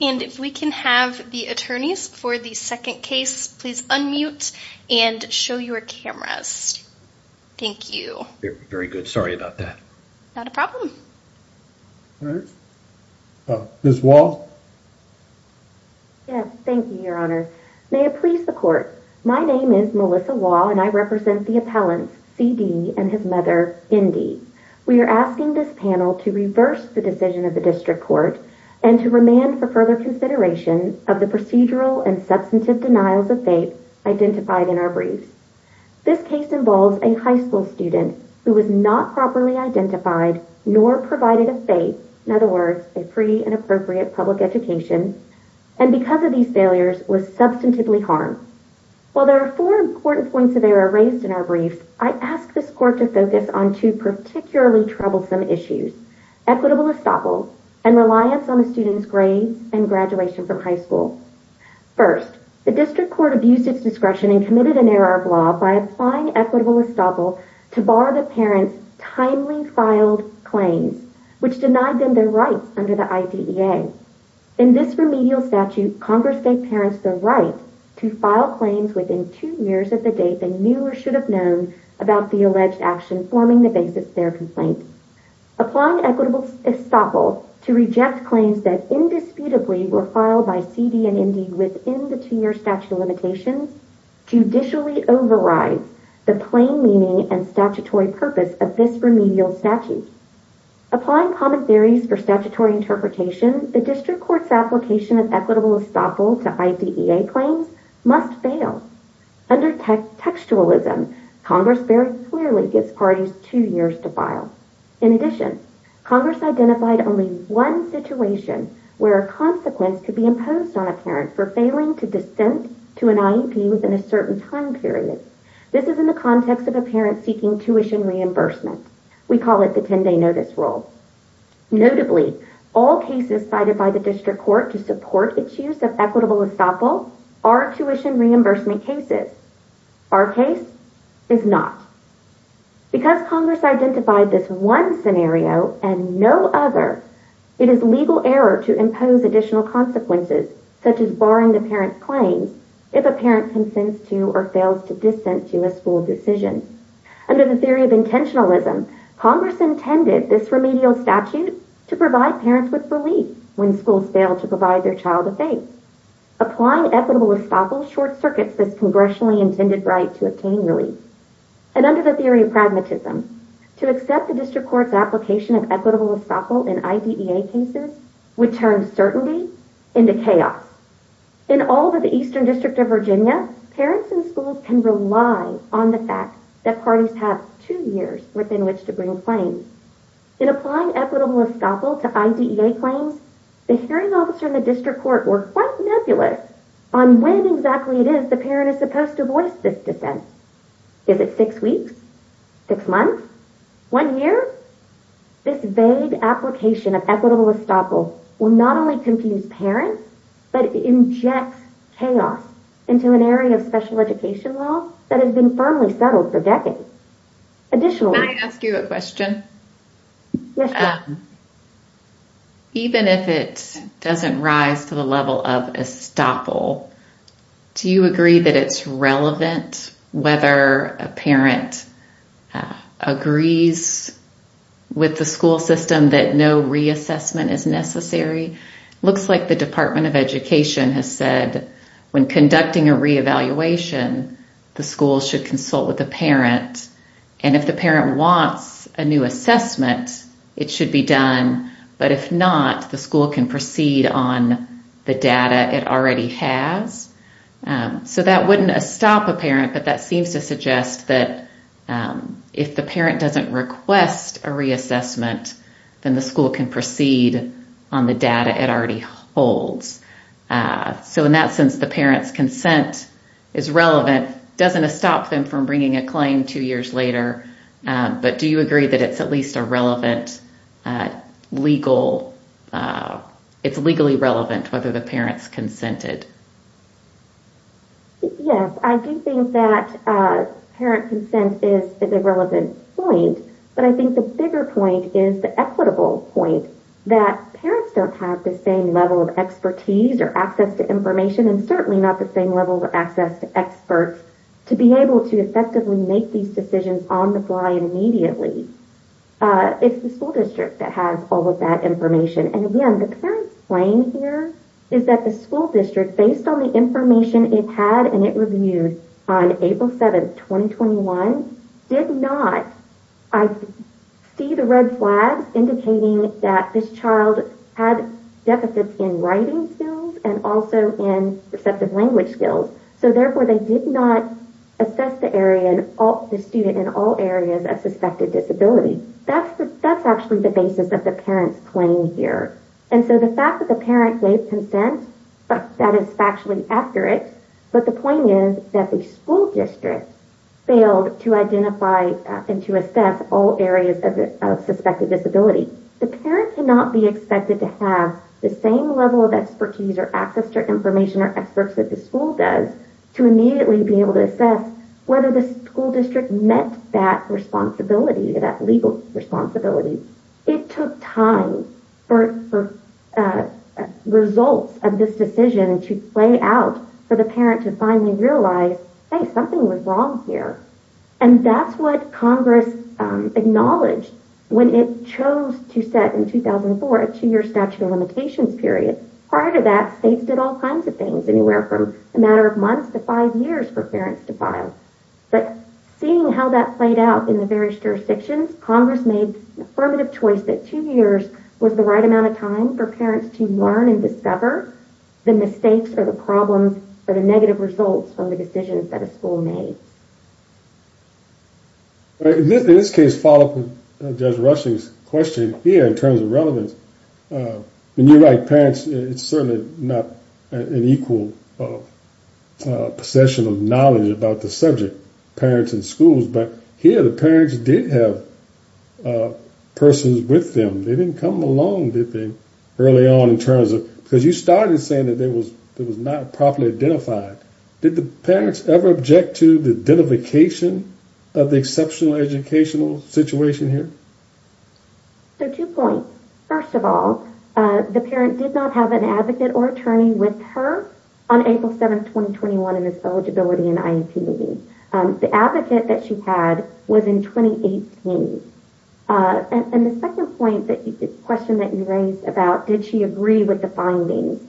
And if we can have the attorneys for the second case, please unmute and show your cameras. Thank you. Very good. Sorry about that. Not a problem. All right. Ms. Wall. Yes, thank you, your honor. May it please the court. My name is Melissa Wall and I represent the appellants C.D. and his mother Indy. We are asking this panel to reverse the decision of the for further consideration of the procedural and substantive denials of faith identified in our briefs. This case involves a high school student who was not properly identified nor provided a faith, in other words, a free and appropriate public education, and because of these failures was substantively harmed. While there are four important points of error raised in our briefs, I ask this court to focus on two particularly troublesome issues, equitable estoppel and reliance on the student's grades and graduation from high school. First, the district court abused its discretion and committed an error of law by applying equitable estoppel to bar the parents' timely filed claims, which denied them their rights under the IDEA. In this remedial statute, Congress gave parents the right to file claims within two years of the date they knew or should have known about the alleged action forming the basis of their complaint. Applying equitable estoppel to reject claims that indisputably were filed by C.D. and Indy within the two-year statute limitations judicially overrides the plain meaning and statutory purpose of this remedial statute. Applying common theories for statutory interpretation, the district court's application of equitable estoppel to IDEA claims must fail. Under textualism, Congress very clearly gives parties two years to file. In addition, Congress identified only one situation where a consequence could be imposed on a parent for failing to dissent to an IEP within a certain time period. This is in the context of a parent seeking tuition reimbursement. We call it the 10-day notice rule. Notably, all cases cited by the district court to support its use of equitable estoppel are tuition reimbursement cases. Our case is not. Because Congress identified this one scenario and no other, it is legal error to impose additional consequences such as barring the parent's claims if a parent consents to or fails to dissent to a school decision. Under the theory of intentionalism, Congress intended this remedial statute to provide parents with relief when schools fail to provide their child a face. Applying equitable estoppel short-circuits this congressionally intended right to obtain relief. And under the theory of pragmatism, to accept the district court's application of equitable estoppel in IDEA cases would turn certainty into chaos. In all but the Eastern District of Virginia, parents and schools can rely on the fact that parties have two years within which to bring claims. In applying equitable estoppel to IDEA claims, the hearing officer and the district court were quite nebulous on when exactly it is the parent is supposed to voice this dissent. Is it six weeks? Six months? One year? This vague application of equitable estoppel will not only confuse parents, but inject chaos into an area of special education law that has been firmly settled for decades. Can I ask you a question? Even if it doesn't rise to the level of estoppel, do you agree that it's relevant whether a parent agrees with the school system that no reassessment is necessary? Looks like the Department of Education has said when conducting a re-evaluation, the school should consult with the parent, and if the parent wants a new assessment, it should be done. But if not, the school can proceed on the data it already has. So that wouldn't stop a parent, but that seems to suggest that if the parent doesn't request a reassessment, then the doesn't stop them from bringing a claim two years later. But do you agree that it's at least it's legally relevant whether the parent's consented? Yes, I do think that parent consent is a relevant point, but I think the bigger point is the equitable point, that parents don't have the same level of expertise or access to information, and certainly not the same level of access to experts to be able to effectively make these decisions on the fly immediately. It's the school district that has all of that information. And again, the parent's claim here is that the school district, based on the information it had and it reviewed on April 7th, 2021, did not see the red flags indicating that this child had deficits in and also in receptive language skills. So therefore, they did not assess the student in all areas of suspected disability. That's actually the basis of the parent's claim here. And so the fact that the parent gave consent, that is factually accurate. But the point is that the school district failed to identify and to assess all areas of suspected disability. The parent cannot be expected to have the same level of expertise or access to information or experts that the school does to immediately be able to assess whether the school district met that responsibility, that legal responsibility. It took time for results of this decision to play out for the parent to finally realize, hey, something was wrong here. And that's what Congress acknowledged when it chose to set in 2004 a two-year statute of limitations period. Prior to that, states did all kinds of things, anywhere from a matter of months to five years for parents to file. But seeing how that played out in the various jurisdictions, Congress made an affirmative choice that two years was the right amount of time for parents to learn and discover the mistakes or the problems or the negative results from the decisions that a school made. In this case, to follow up with Judge Rushing's question, here in terms of relevance, when you write parents, it's certainly not an equal possession of knowledge about the subject, parents and schools. But here, the parents did have persons with them. They didn't come along, did they, early on in terms of, because you started saying that it was not properly identified. Did the parents ever object to the identification of the exceptional educational situation here? So, two points. First of all, the parent did not have an advocate or attorney with her on April 7th, 2021 in this eligibility and IEP meeting. The advocate that she had was in 2018. And the second point, the question that you raised about did she agree with the findings?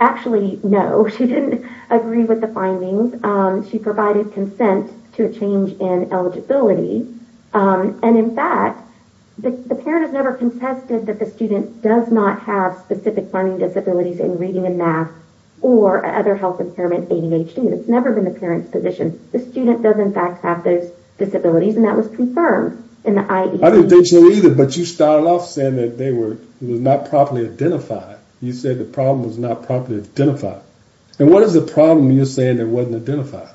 Actually, no, she didn't agree with the findings. She provided consent to a change in eligibility. And in fact, the parent has never contested that the student does not have specific learning disabilities in reading and math or other health impairment, ADHD. That's never been the parent's position. The student does in fact have those disabilities and that was confirmed in the IEP. I didn't think so either, but you started off saying that it was not properly identified. You said the problem was not properly identified. And what is the problem you're saying that wasn't identified?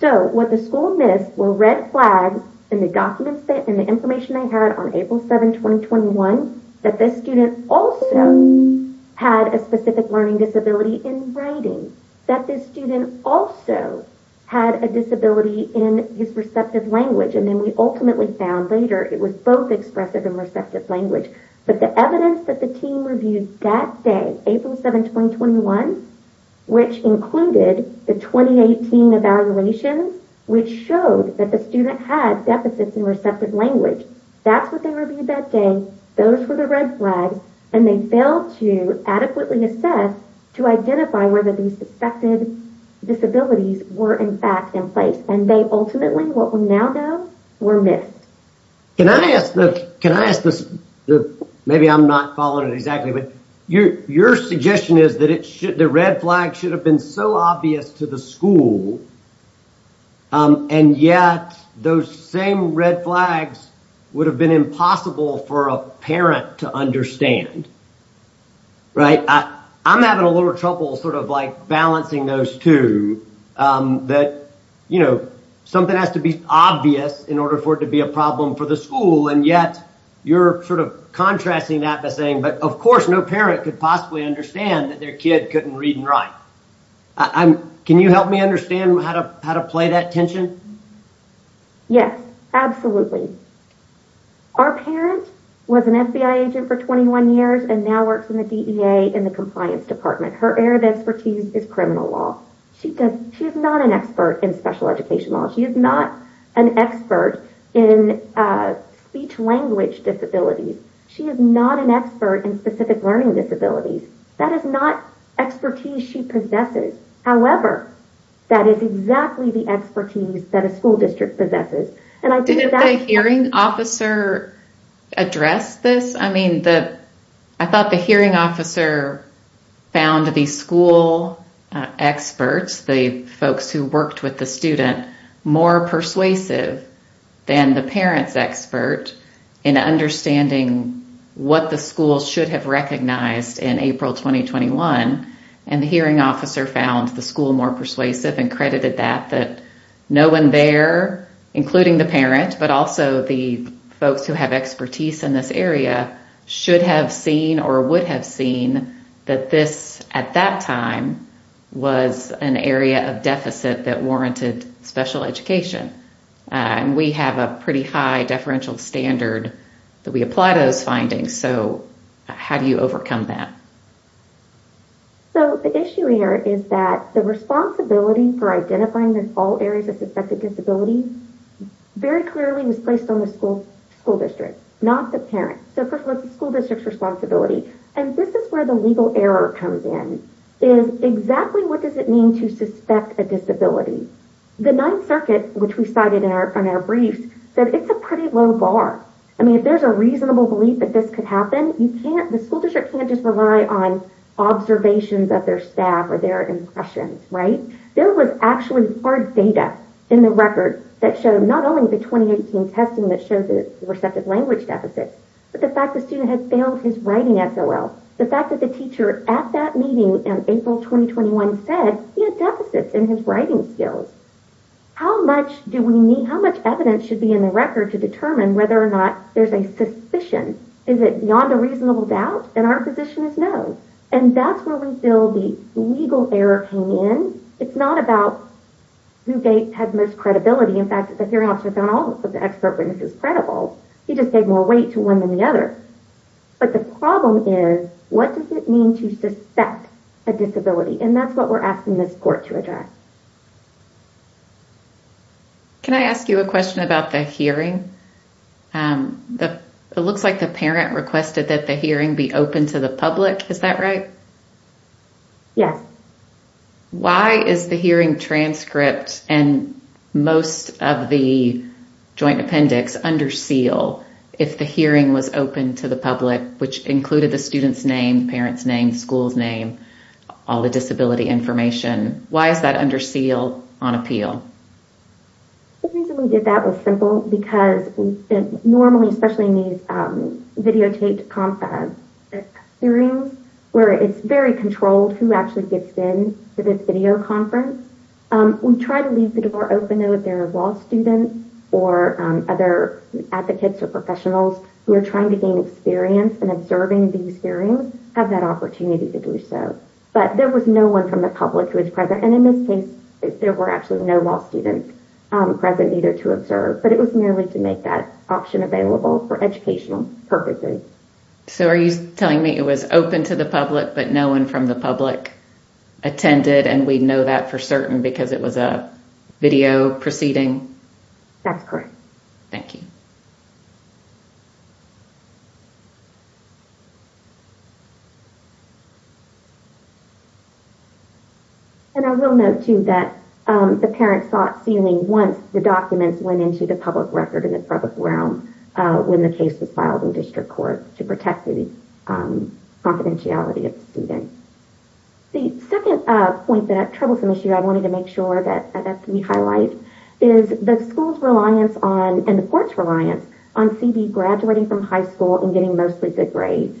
So, what the school missed were red flags in the documents and the information they had on April 7th, 2021, that this student also had a specific learning disability in writing, that this student also had a disability in his receptive language. And then we ultimately found later it was both expressive and receptive language. But the evidence that the team reviewed that day, April 7th, 2021, which included the 2018 evaluations, which showed that the student had deficits in receptive language. That's what they reviewed that day. Those were the red flags. And they failed to adequately assess to identify whether these suspected disabilities were in fact in place. And they ultimately, what we now know, were missed. Can I ask this? Maybe I'm not following it exactly, but your suggestion is that the red flag should have been so obvious to the school. And yet those same red flags would have been impossible for a parent to understand. Right? I'm having a little trouble sort of like balancing those two. That, you know, something has to be obvious in order for it to be a problem for the school. And yet you're sort of contrasting that by saying, but of course no parent could possibly understand that their kid couldn't read and write. Can you help me understand how to play that tension? Yes, absolutely. Our parent was an FBI agent for 21 years and now works in the DEA in compliance department. Her area of expertise is criminal law. She is not an expert in special education law. She is not an expert in speech language disabilities. She is not an expert in specific learning disabilities. That is not expertise she possesses. However, that is exactly the expertise that a school district possesses. Didn't the hearing officer address this? I mean, I thought the hearing officer found the school experts, the folks who worked with the student, more persuasive than the parent's expert in understanding what the school should have recognized in April, 2021. And the hearing officer found the school more persuasive and credited that no one there, including the parent, but also the folks who have expertise in this area, should have seen or would have seen that this at that time was an area of deficit that warranted special education. And we have a pretty high deferential standard that we apply to those findings. So how do you overcome that? So the issue here is that the responsibility for identifying all areas of suspected disability very clearly was placed on the school district, not the parent. So first of all, it's the school district's responsibility. And this is where the legal error comes in, is exactly what does it mean to suspect a disability? The Ninth Circuit, which we cited in our briefs, said it's a pretty low bar. I mean, if there's a reasonable belief that this could happen, the school district can't just rely on observations of their staff or their impressions, right? There was actually hard data in the record that showed not only the 2018 testing that showed the receptive language deficit, but the fact the student had failed his writing SOL. The fact that the teacher at that meeting in April, 2021 said he had deficits in his writing skills. How much do we need, how much evidence should be in the record to determine whether or not there's a suspicion? Is it beyond a reasonable doubt? And our position is no. And that's where the legal error came in. It's not about who had most credibility. In fact, the hearing officer found all of the expert witnesses credible. He just gave more weight to one than the other. But the problem is, what does it mean to suspect a disability? And that's what we're asking this court to address. Can I ask you a question about the hearing? It looks like the parent requested that the hearing be open to the public. Is that right? Yes. Why is the hearing transcript and most of the joint appendix under seal if the hearing was open to the public, which included the student's name, parent's name, school's name, all the disability information? Why is that under seal on appeal? The reason we did that was simple because normally, especially in these videotaped hearings where it's very controlled who actually gets in to this video conference, we try to leave the door open though if there are law students or other advocates or professionals who are trying to gain experience in observing these hearings have that opportunity to do so. But there was no one from the public who was present. And in this case, there were actually no law students present either to observe. But it was merely to make that option available for educational purposes. So are you telling me it was open to the public, but no one from the public attended and we know that for certain because it was a video proceeding? That's correct. Thank you. And I will note too that the parents thought ceiling once the documents went into the public record in the public realm when the case was filed in district court to protect the confidentiality of the student. The second point that I have trouble with this year, I wanted to make sure that we highlight is the school's reliance on and the court's reliance on CD graduating from high school and getting mostly good grades.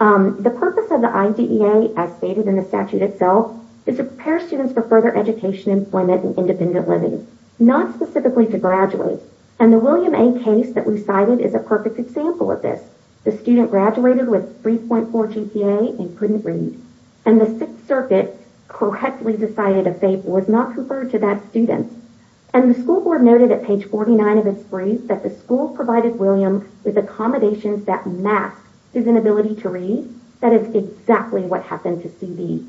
The purpose of the IDEA as stated in the statute itself is to prepare students for further education, employment, and independent living, not specifically to graduate. And the William A case that we cited is a perfect example of this. The student graduated with 3.4 GPA and couldn't read. And the sixth circuit correctly decided was not preferred to that student. And the school board noted at page 49 of its brief that the school provided William with accommodations that masked his inability to read. That is exactly what happened to CD.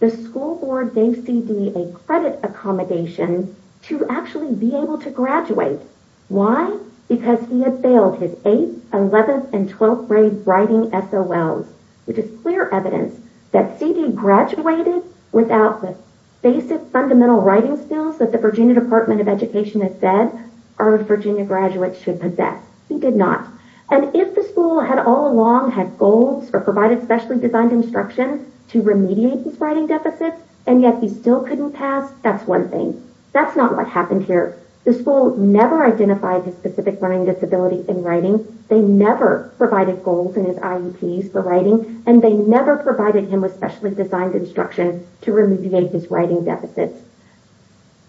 The school board gave CD a credit accommodation to actually be able to graduate. Why? Because he had failed his eighth, 11th, and 12th grade writing SOLs, which is clear evidence that CD graduated without the basic fundamental writing skills that the Virginia Department of Education has said our Virginia graduates should possess. He did not. And if the school had all along had goals or provided specially designed instruction to remediate his writing deficits, and yet he still couldn't pass, that's one thing. That's not what happened here. The school never identified his specific learning disability in writing. They never provided goals in his IEPs for writing. And they never provided him with specially designed instruction to remediate his writing deficits.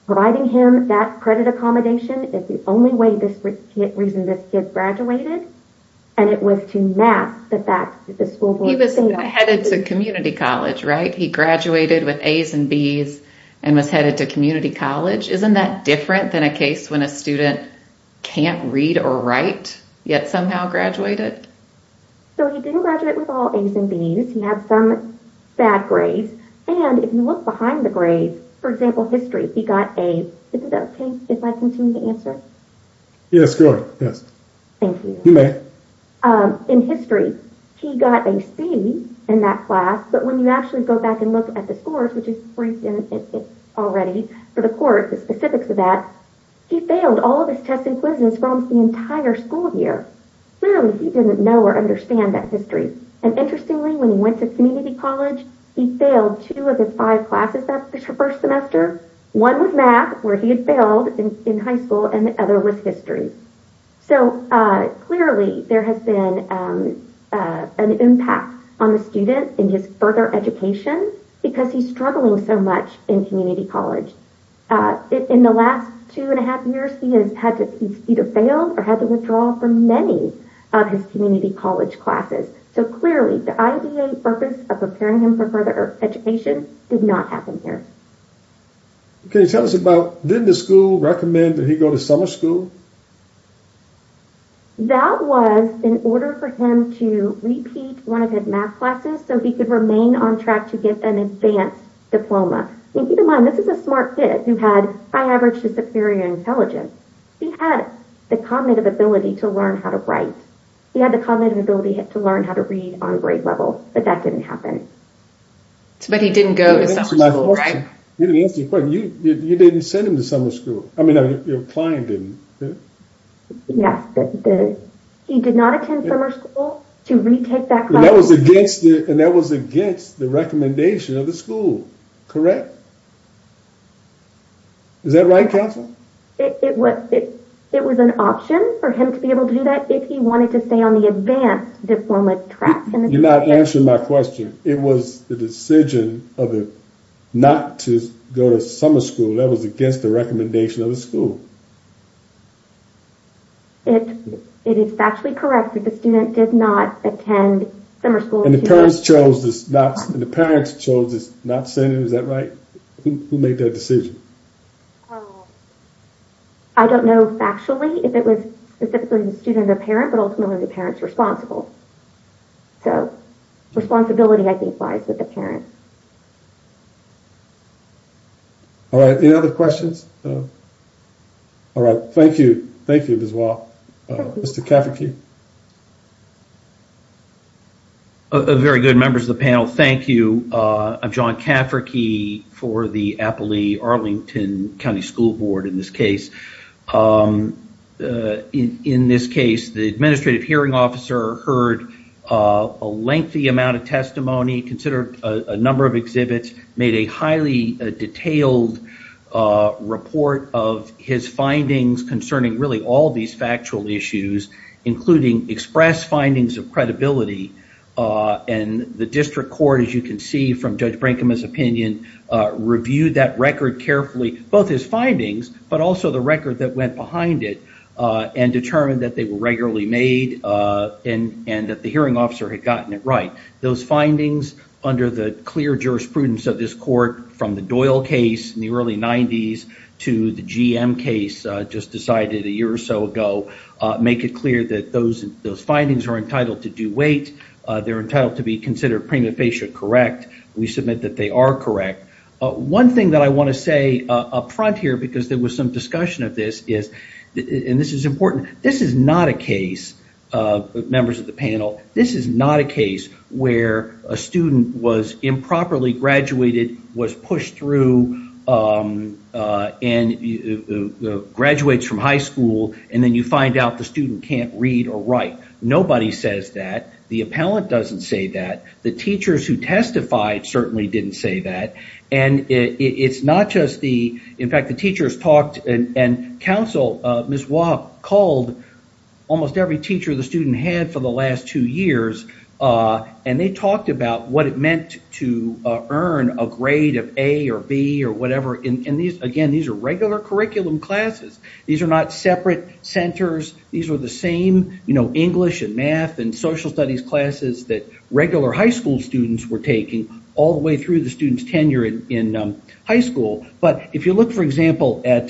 Providing him that credit accommodation is the only reason this kid graduated. And it was to mask the fact that the school board... He was headed to community college, right? He graduated with A's and B's and was headed to community college. Isn't that different than a case when a student can't read or write yet somehow graduated? So he didn't graduate with all A's and B's. He had some bad grades. And if you look behind the grades, for example, history, he got a... Is it okay if I continue to answer? Yes, go ahead. Yes. Thank you. You may. In history, he got a C in that class. But when you actually go back and look at the scores, which is already for the court, the specifics of that, he failed all of his tests and quizzes for almost the entire school year. Clearly, he didn't know or understand that history. And interestingly, when he went to community college, he failed two of his five classes that first semester. One was math, where he had failed in high school, and the other was history. So clearly, there has been an impact on the student in his further education, because he's struggling so much in community college. In the last two and a half years, he has had to... He's either failed or had to withdraw from many of his community college classes. So clearly, the IDA purpose of preparing him for further education did not happen here. Okay. Tell us about... Did the school recommend that he go to summer school? That was in order for him to repeat one of his math classes so he could remain on track to get an advanced diploma. And keep in mind, this is a smart kid who had, by average, a superior intelligence. He had the cognitive ability to learn how to write. He had the cognitive ability to learn how to read on grade level, but that didn't happen. But he didn't go to summer school, right? You didn't answer the question. You didn't send him to summer school. I mean, your client didn't. Yes. He did not attend summer school to retake that class. And that was against the recommendation of the school, correct? Is that right, Counselor? It was an option for him to be able to do that if he wanted to stay on the advanced diploma track. You're not answering my question. It was the decision of him not to go to summer school. That was against the recommendation of the school. It is factually correct that the student did not attend summer school. And the parents chose not to send him. Is that right? Who made that decision? I don't know factually if it was specifically the student or the parent, but ultimately the parent's responsible. So responsibility, I think, lies with the parent. All right. Any other questions? All right. Thank you. Thank you, Ms. Wah. Mr. Kafferke. Very good. Members of the panel, thank you. I'm John Kafferke for the Applee-Arlington County School Board in this case. In this case, the administrative hearing officer heard a lengthy amount of testimony, considered a number of exhibits, made a highly detailed report of his findings concerning really all these factual issues, including express findings of credibility. And the district court, as you can see from Judge Brinkman's opinion, reviewed that record carefully, both his findings, but also the record that went behind it, and determined that they were regularly made and that the hearing officer had gotten it right. Those findings, under the clear jurisprudence of this court from the Doyle case in the early 90s to the GM case just decided a year or so ago, make it clear that those findings are entitled to due weight. They're entitled to be considered prima facie correct. We submit that they are correct. One thing that I want to say up front here, because there was some discussion of this, and this is important, this is not a case, members of the panel, this is not a case where a student was improperly graduated, was pushed through, and graduates from high school, and then you find out the student can't read or write. Nobody says that. The appellant doesn't say that. The teachers who testified certainly didn't say that. And it's not just the, in fact, the teachers talked and counsel Ms. Wah called almost every teacher the student had for the last two years, and they talked about what it meant to earn a grade of A or B or whatever. And these, again, these are regular curriculum classes. These are not separate centers. These are the same English and math and social studies classes that regular high school students were taking all the way through the student's tenure in high school. But if you look, for example, at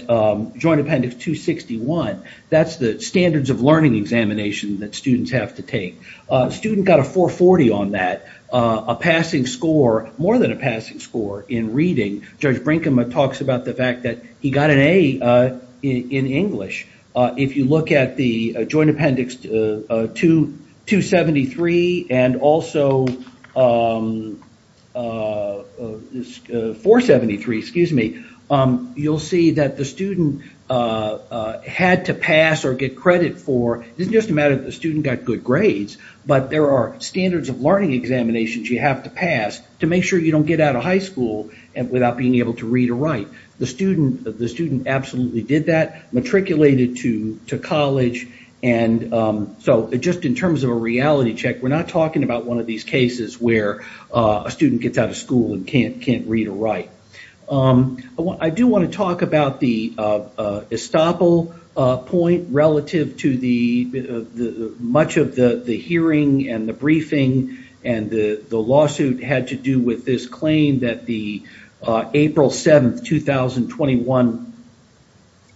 Joint Appendix 261, that's the standards of learning examination that students have to take. A student got a 440 on that, a passing score, more than a passing score in reading. Judge Brinkman talks about the fact that he got an A in English. If you look at the Joint Appendix 273 and also 473, excuse me, you'll see that the student had to pass or get credit for, it doesn't just matter if the student got good grades, but there are standards of learning examinations you have to pass to make you don't get out of high school without being able to read or write. The student absolutely did that, matriculated to college. And so just in terms of a reality check, we're not talking about one of these cases where a student gets out of school and can't read or write. I do want to talk about the estoppel point relative to much of the hearing and the briefing and the lawsuit had to do with this claim that the April 7th, 2021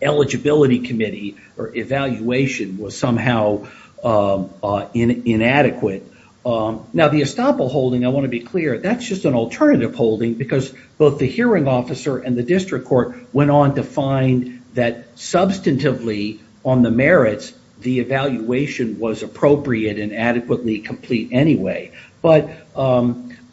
eligibility committee or evaluation was somehow inadequate. Now the estoppel holding, I want to be clear, that's just an alternative holding because both the hearing officer and the district court went on to find that substantively on the merits, the evaluation was appropriate and adequately complete anyway. But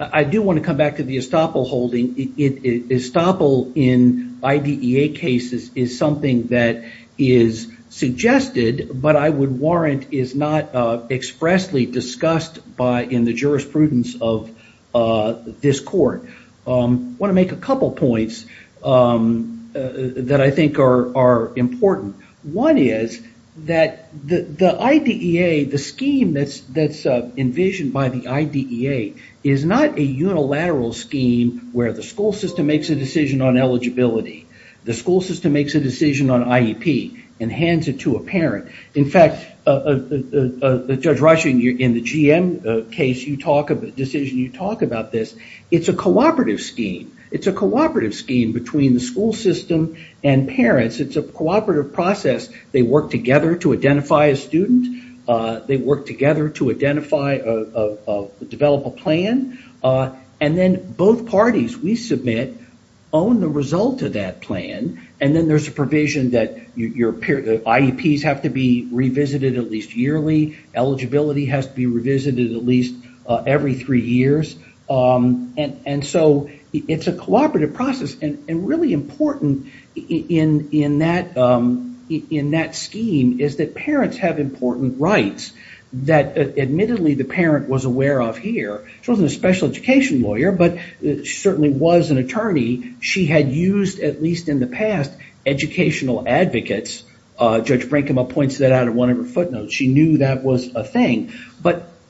I do want to come back to the estoppel holding. Estoppel in IDEA cases is something that is suggested, but I would warrant is not expressly discussed in the jurisprudence of this court. I want to make a couple points that I think are important. One is that the IDEA, the scheme that's envisioned by the IDEA, is not a unilateral scheme where the school system makes a decision on eligibility. The school system makes a decision on IEP and hands it to a parent. In fact, Judge Reisch in the GM case, the decision you talk about this, it's a cooperative scheme. It's a cooperative scheme between the school system and parents. It's a cooperative process. They work together to identify a student. They work together to develop a plan. Then both parties we submit own the result of that plan. Then there's a provision that IEPs have to be revisited at least yearly. Eligibility has to be revisited at least every three years. It's a cooperative process. Really important in that scheme is that parents have important rights that admittedly the parent was aware of here. She wasn't a special education lawyer, but she certainly was an attorney. She had used, at least in the past, educational advocates. Judge Brinkema points that out in one of her footnotes. She knew that was a thing.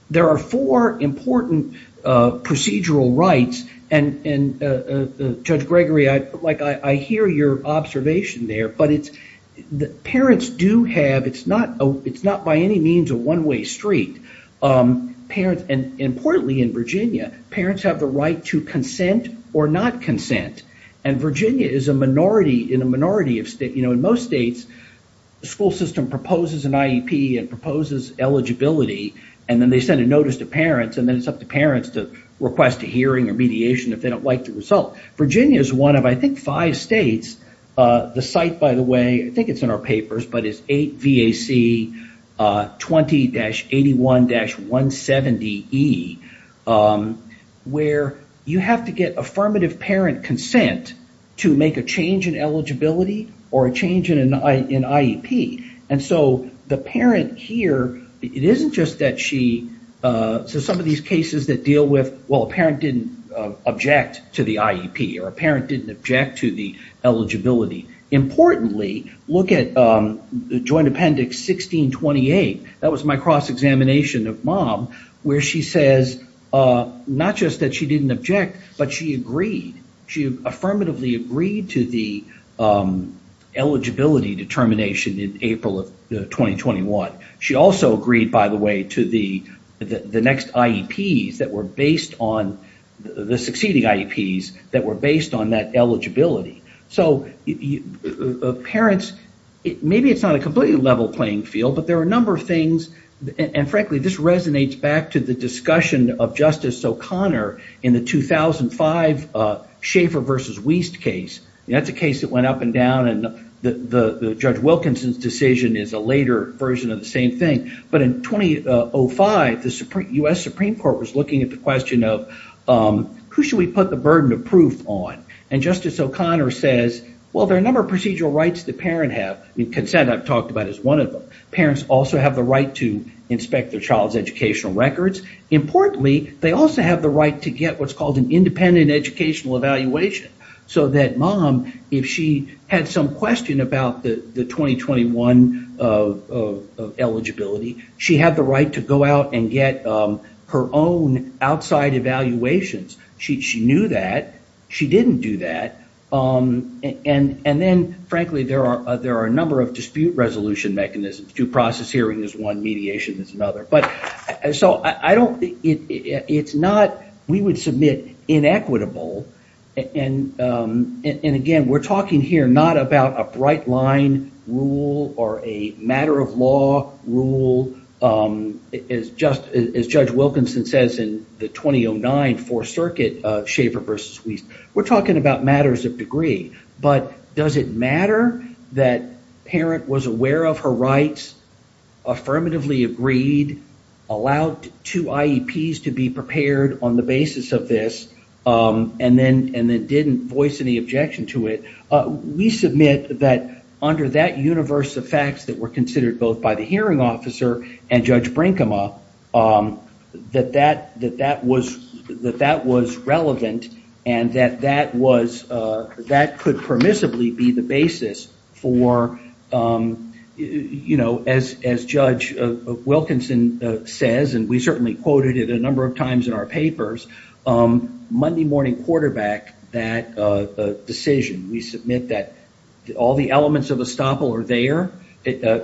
There are four important procedural rights. Judge Gregory, I hear your observation there. It's not by any means a one way street. Importantly in Virginia, parents have the right to consent or not consent. Virginia is in a minority of states. In most states, the school system proposes an IEP and proposes eligibility. Then they send a notice to parents. Then it's up to parents to request a hearing or mediation if they don't like the result. Virginia is one of five states. The site, by the way, I think it's in our papers, but it's 8VAC 20-81-170E where you have to get affirmative parent consent to make a change in eligibility or a change in IEP. The parent here, it isn't just that she... Some of these cases that deal with, well, a parent didn't object to the IEP or a parent didn't object to the eligibility. Importantly, look at the Joint Appendix 1628. That was my cross-examination of mom where she says not just that she didn't object, but she agreed. She affirmatively agreed to the eligibility determination in April of 2021. She also agreed, by the way, to the succeeding IEPs that were based on that eligibility. Maybe it's not a completely level playing field, but there are a number of things. Frankly, this resonates back to the discussion of Justice O'Connor in the 2005 Schaeffer versus Wiest case. That's a case that went up and down, and Judge Wilkinson's decision is a later version of the same thing. In 2005, the US Supreme Court was looking at the question of who should we put the burden of proof on? Justice O'Connor says, well, there are a number of procedural rights that parents have. Consent, I've talked about, is one of them. Parents also have the right to inspect their child's educational records. Importantly, they also have the right to get what's called an independent educational evaluation so that mom, if she had some question about the 2021 eligibility, she had the right to go out and get her own outside evaluations. She knew that. She didn't do that. Then, frankly, there are a number of dispute resolution mechanisms. Due process hearing is one. Mediation is another. We would submit inequitable. Again, we're talking here not about a bright line rule or a matter of law rule. As Judge Wilkinson says in the 2009 Fourth Circuit Schaeffer versus Wiest, we're talking about matters of degree. Does it matter that parent was aware of her rights, affirmatively agreed, allowed two IEPs to be prepared on the basis of this, and then didn't voice any objection to it? We submit that under that universe of facts that were considered both the hearing officer and Judge Brinkema that that was relevant and that that could permissibly be the basis for, as Judge Wilkinson says, and we certainly quoted it a number of times in our papers, Monday morning quarterback that decision. We submit that all the elements of estoppel are there,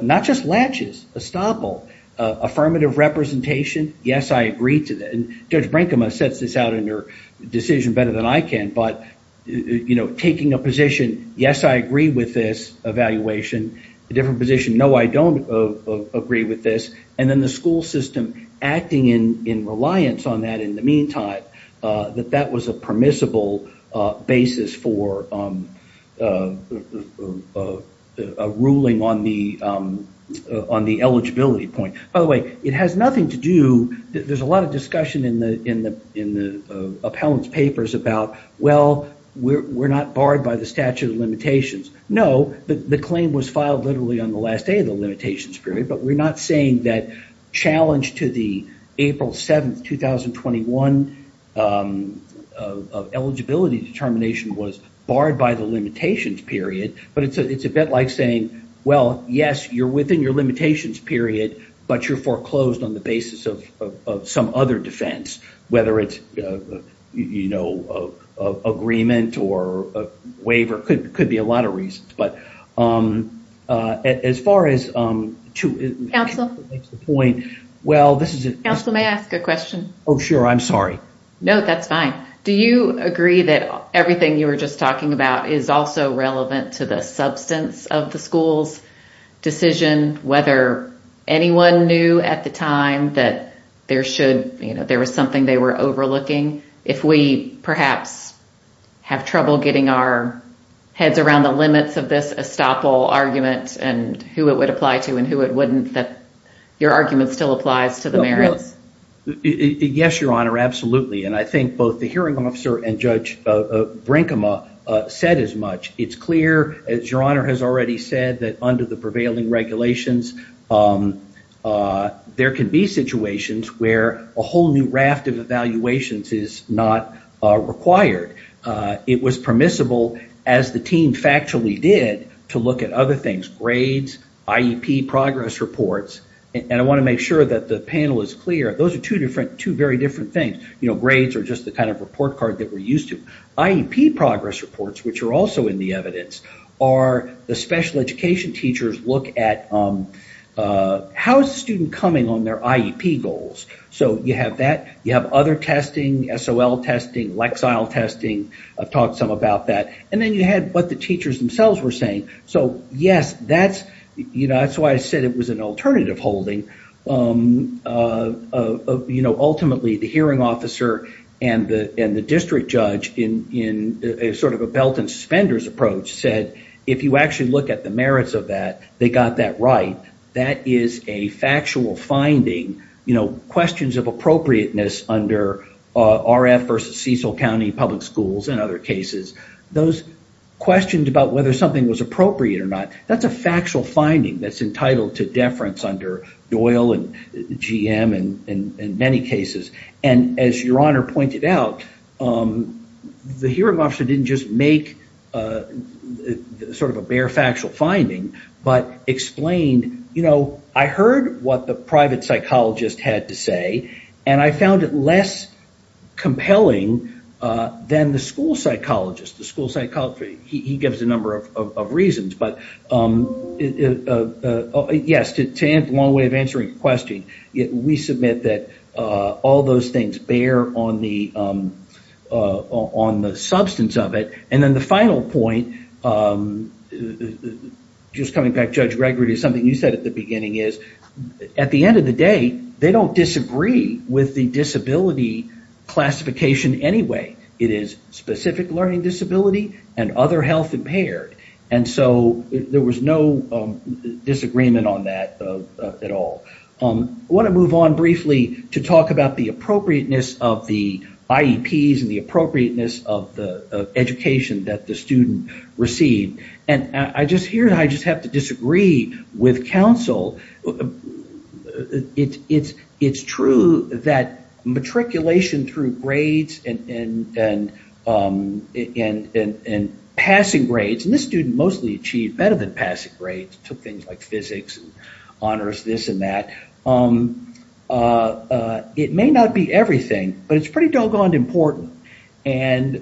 not just latches, estoppel. Affirmative representation, yes, I agree to that. Judge Brinkema sets this out in her decision better than I can, but taking a position, yes, I agree with this evaluation, a different position, no, I don't agree with this, and then the school system acting in reliance on that in the meantime, that that was a permissible basis for a ruling on the eligibility point. By the way, it has nothing to do, there's a lot of discussion in the appellant's papers about, well, we're not barred by the statute of limitations. No, the claim was filed literally on the last day of the limitations period, but we're not saying that challenge to the April 7th, 2021 eligibility determination was barred by the limitations period, but it's a bit like saying, well, yes, you're within your limitations period, but you're foreclosed on the basis of some other defense, whether it's an agreement or a waiver, could be a lot of reasons, but as far as... Counsel? Counsel, may I ask a question? Oh, sure, I'm sorry. No, that's fine. Do you agree that everything you were just talking about is also relevant to the substance of the school's decision, whether anyone knew at the time that there was something they were overlooking? If we perhaps have trouble getting our heads around the limits of this estoppel argument and who it would apply to and who it wouldn't, that your argument still applies to the merits? Yes, Your Honor, absolutely, and I think both the hearing officer and Judge Brinkema said as much. It's clear, as Your Honor has already said, that under the prevailing regulations, there can be situations where a whole new raft of evaluations is not required. It was permissible, as the team factually did, to look at other things, grades, IEP progress reports, and I want to make sure that the panel is clear, those are two very different things. Grades are just the report card that we're used to. IEP progress reports, which are also in the evidence, are the special education teachers look at how is the student coming on their IEP goals. So you have that, you have other testing, SOL testing, Lexile testing, I've talked some about that, and then you had what the teachers themselves were saying. So yes, that's why I said it was an alternative holding. Ultimately, the hearing officer and the district judge, in sort of a belt and suspenders approach, said if you actually look at the merits of that, they got that right. That is a factual finding. Questions of appropriateness under RF versus Cecil County Public Schools and other cases, those questions about whether something was appropriate or not, that's a factual finding that's entitled to deference under Doyle and GM and many cases. And as your honor pointed out, the hearing officer didn't just make sort of a bare factual finding, but explained, you know, I heard what the private psychologist had to say, and I found it less compelling than the school psychologist. The school psychologist, he gives a number of reasons, but yes, to answer your question, we submit that all those things bear on the substance of it. And then the final point, just coming back to Judge Gregory, something you said at the beginning is at the end of the day, they don't disagree with the disability classification anyway. It is specific learning disability and other health impaired. And so there was no disagreement on that at all. I want to move on briefly to talk about the appropriateness of the IEPs and the appropriateness of the education that the student received. And I just hear, I just have to disagree with counsel. It's true that matriculation through grades and passing grades, and this student mostly achieved better than passing grades, took things like physics, honors, this and that. It may not be everything, but it's pretty doggone important. And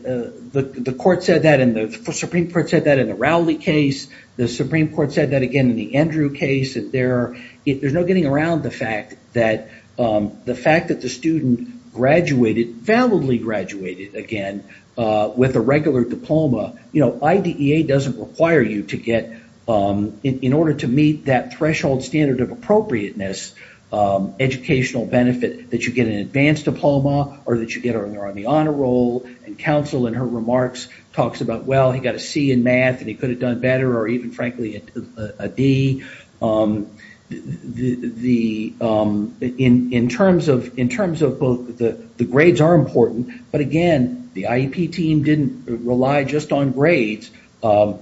the court said that, the Supreme Court said that in the Rowley case, the Supreme Court said that again in the Andrew case. There's no getting around the fact that the fact that the student graduated, validly graduated again, with a regular diploma, IDEA doesn't require you to get, in order to meet that threshold standard of appropriateness, educational benefit that you get an advanced diploma or that you're on the honor roll. And counsel in her remarks talks about, well, he got a C in math and he could have done better, or even frankly, a D. In terms of both, the grades are important, but again, the IEP team didn't rely just on grades, SOLs,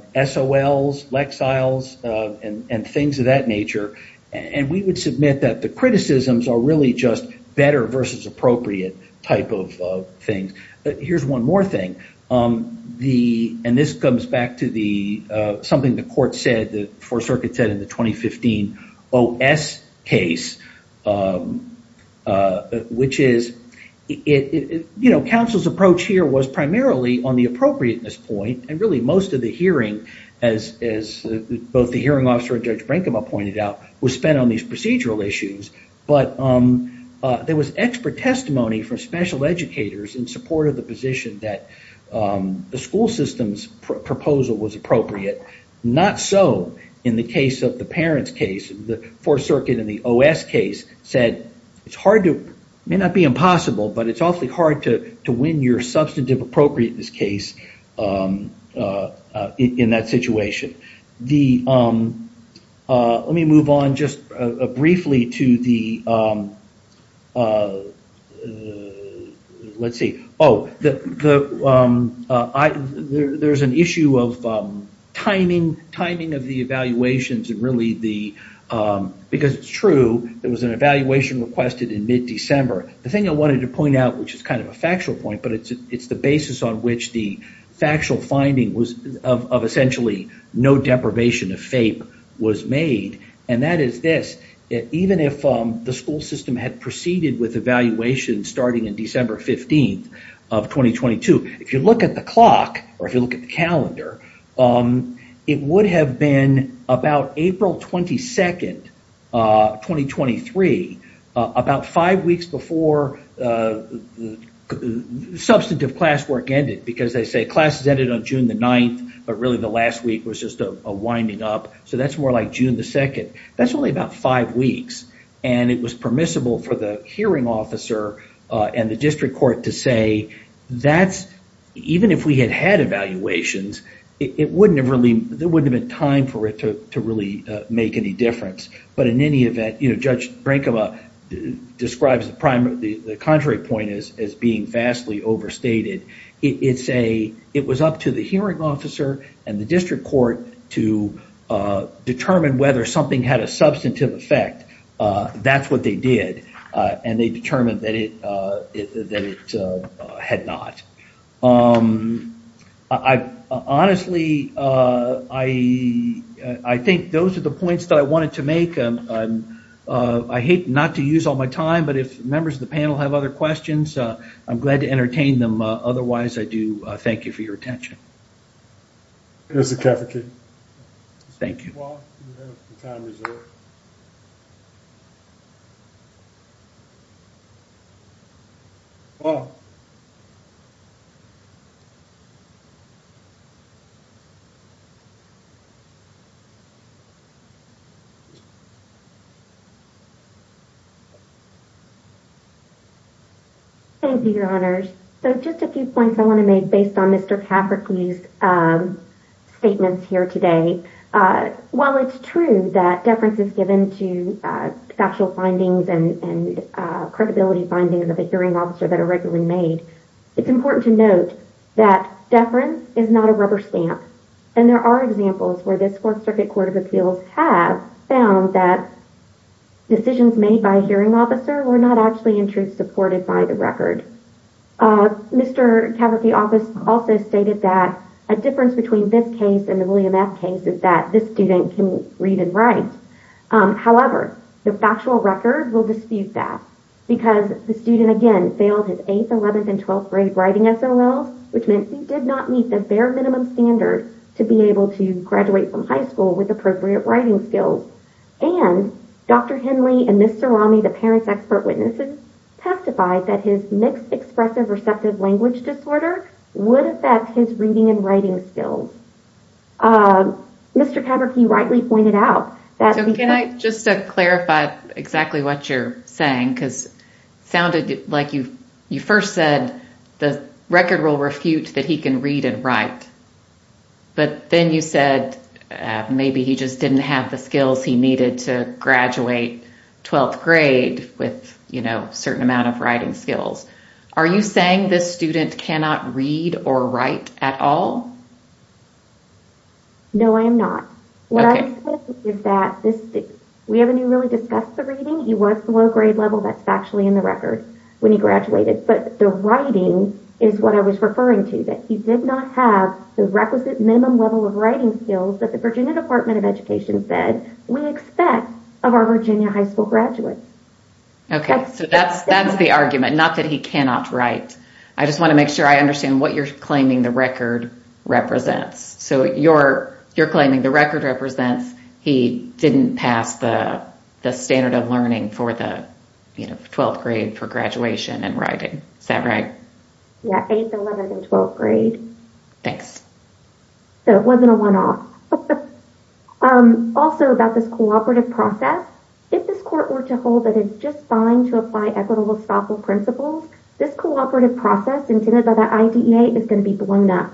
Lexiles, and things of that nature. And we would submit that the criticisms are really just better versus appropriate type of things. Here's one more thing. And this comes back to something the court said, the Fourth Circuit said in the 2015 OS case, which is, counsel's approach here was primarily on the appropriateness point. And really most of the hearing, as both the hearing officer and Judge Brancabaugh pointed out, was spent on these procedural issues. But there was expert testimony from special educators in support of the position that the school system's proposal was appropriate. Not so in the case of the parents case, the Fourth Circuit in the OS case said, it's hard to, may not be in that situation. Let me move on just briefly to the, let's see, oh, there's an issue of timing of the evaluations and really the, because it's true, there was an evaluation requested in mid-December. The thing I wanted to point out, which is kind of a factual point, but it's the basis on which the factual finding was of essentially no deprivation of FAPE was made. And that is this, even if the school system had proceeded with evaluation starting in December 15th of 2022, if you look at the clock, or if you look at the substantive classwork ended, because they say classes ended on June the 9th, but really the last week was just a winding up. So that's more like June the 2nd. That's only about five weeks. And it was permissible for the hearing officer and the district court to say, that's, even if we had had evaluations, it wouldn't have really, there wouldn't have been time for it to really make any difference. But in any event, you know, Judge Brankova describes the contrary point as being vastly overstated. It's a, it was up to the hearing officer and the district court to determine whether something had a substantive effect. That's what they did. And they determined that it had not. Honestly, I think those are the points that I wanted to make. I hate not to use all my time, but if members of the panel have other questions, I'm glad to entertain them. Otherwise, I do thank you for your attention. Thank you. Paul, you have some time reserved. Paul. Thank you, your honors. So just a few points I want to make based on Mr. Paprocki's statements here today. While it's true that deference is given to factual findings and credibility findings of a hearing officer that are regularly made, it's important to note that deference is not a rubber stamp. And there are examples where this fourth circuit court of appeals have found that decisions made by a hearing officer were not actually in truth by the record. Mr. Paprocki also stated that a difference between this case and the William F case is that this student can read and write. However, the factual record will dispute that because the student, again, failed his 8th, 11th, and 12th grade writing SLLs, which meant he did not meet the bare minimum standard to be able to graduate from high school with appropriate writing skills. And Dr. Henley and Ms. Sarami, the parent's expert witnesses, testified that his mixed expressive receptive language disorder would affect his reading and writing skills. Mr. Paprocki rightly pointed out that... So can I just clarify exactly what you're saying? Because it sounded like you first said the record will refute that he can read and write. But then you said maybe he just didn't have the skills he needed to graduate 12th grade with a certain amount of writing skills. Are you saying this student cannot read or write at all? No, I am not. What I'm saying is that we haven't really discussed the reading. He was below grade level. That's factually in the record when he graduated. But the writing is what I was referring to, that he did not have the requisite minimum level of writing skills that the Virginia Department of Education said we expect of our Virginia high school graduates. Okay, so that's the argument, not that he cannot write. I just want to make sure I understand what you're claiming the record represents. So you're claiming the record represents he didn't pass the standard of learning for the 12th grade for graduation and writing. Is that right? Yeah, 8th, 11th, and 12th grade. Thanks. So it wasn't a one-off. Also, about this cooperative process, if this court were to hold that it's just fine to apply equitable stockhold principles, this cooperative process intended by the IDEA is going to be blown up.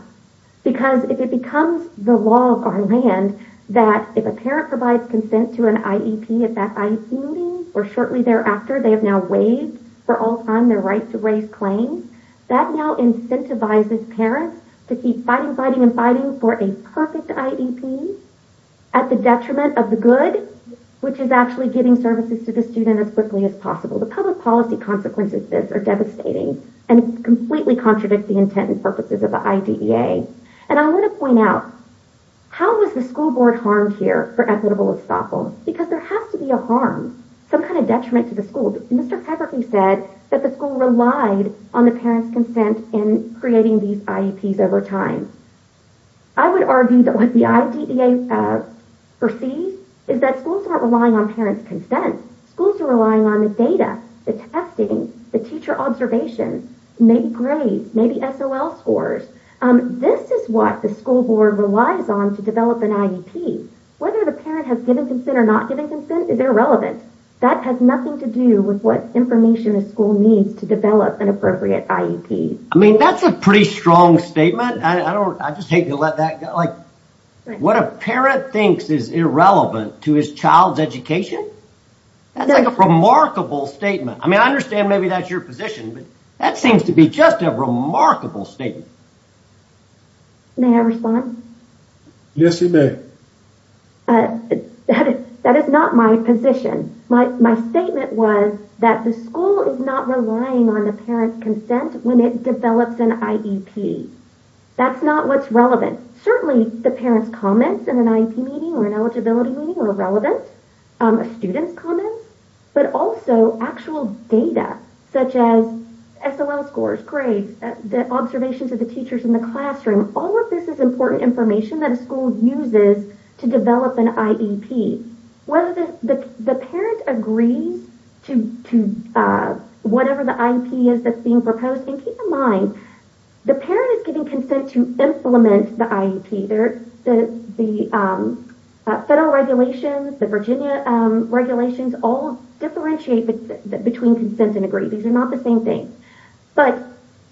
Because if it becomes the law of our land that if a parent provides consent to an IEP at that IEP meeting or shortly thereafter, they have now waived for all time their right to raise claims, that now incentivizes parents to keep fighting, and fighting for a perfect IEP at the detriment of the good, which is actually giving services to the student as quickly as possible. The public policy consequences of this are devastating and completely contradict the intent and purposes of the IDEA. And I want to point out, how was the school board harmed here for equitable stockhold? Because there has to be a harm, some kind of detriment to the school. Mr. Pepperton said that the school relied on the parents' consent in creating these IEPs over time. I would argue that what the IDEA perceives is that schools aren't relying on parents' consent. Schools are relying on the data, the testing, the teacher observation, maybe grades, maybe SOL scores. This is what the school board relies on to develop an IEP. Whether the parent has given consent or not given consent is irrelevant. That has nothing to do with what information a school needs to develop an appropriate IEP. I mean, that's a pretty strong statement. I just hate to let that go. Like, what a parent thinks is irrelevant to his child's education? That's like a remarkable statement. I mean, I understand maybe that's your position, but that seems to be just a remarkable statement. May I respond? Yes, you may. That is not my position. My statement was that the school is not relying on the parent's consent when it develops an IEP. That's not what's relevant. Certainly, the parent's comments in an IEP meeting or an eligibility meeting are relevant, a student's comments, but also actual data such as SOL scores, grades, the observations of the teachers in the classroom. All of this is important information that a school uses to develop an IEP. Whether the parent agrees to whatever the IEP is that's being proposed, and keep in mind, the parent is giving consent to implement the IEP. The federal regulations, the Virginia regulations all differentiate between consent and agree. These are not the same thing. But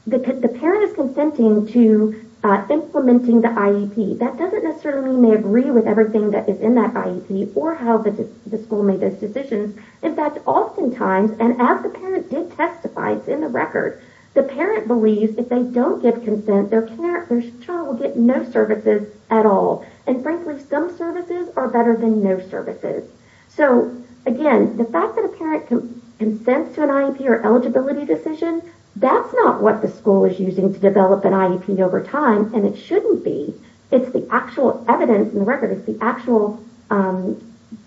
the parent is consenting to implementing the IEP. That doesn't necessarily mean they agree with everything that is in that IEP or how the school made those decisions. In fact, oftentimes, and as the parent did testify, it's in the record, the parent believes if they don't give consent, their child will get no services at all. And frankly, some services are better than no services. So again, the fact that a parent can consent to an IEP or eligibility decision, that's not what the school is using to develop an IEP over time, and it shouldn't be. It's the actual evidence and records, the actual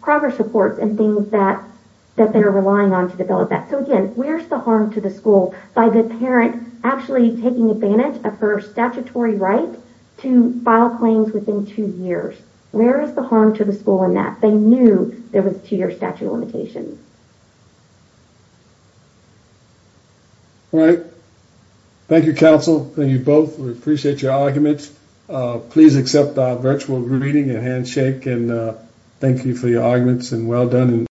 progress reports and things that they're relying on to develop that. So again, where's the harm to the school by the parent actually taking advantage of her statutory right to file claims within two years? Where is the harm to the school in that? They knew there was a two-year statute of limitations. All right. Thank you, counsel. Thank you both. We appreciate your arguments. Please accept our virtual greeting and handshake, and thank you for your arguments, and well done.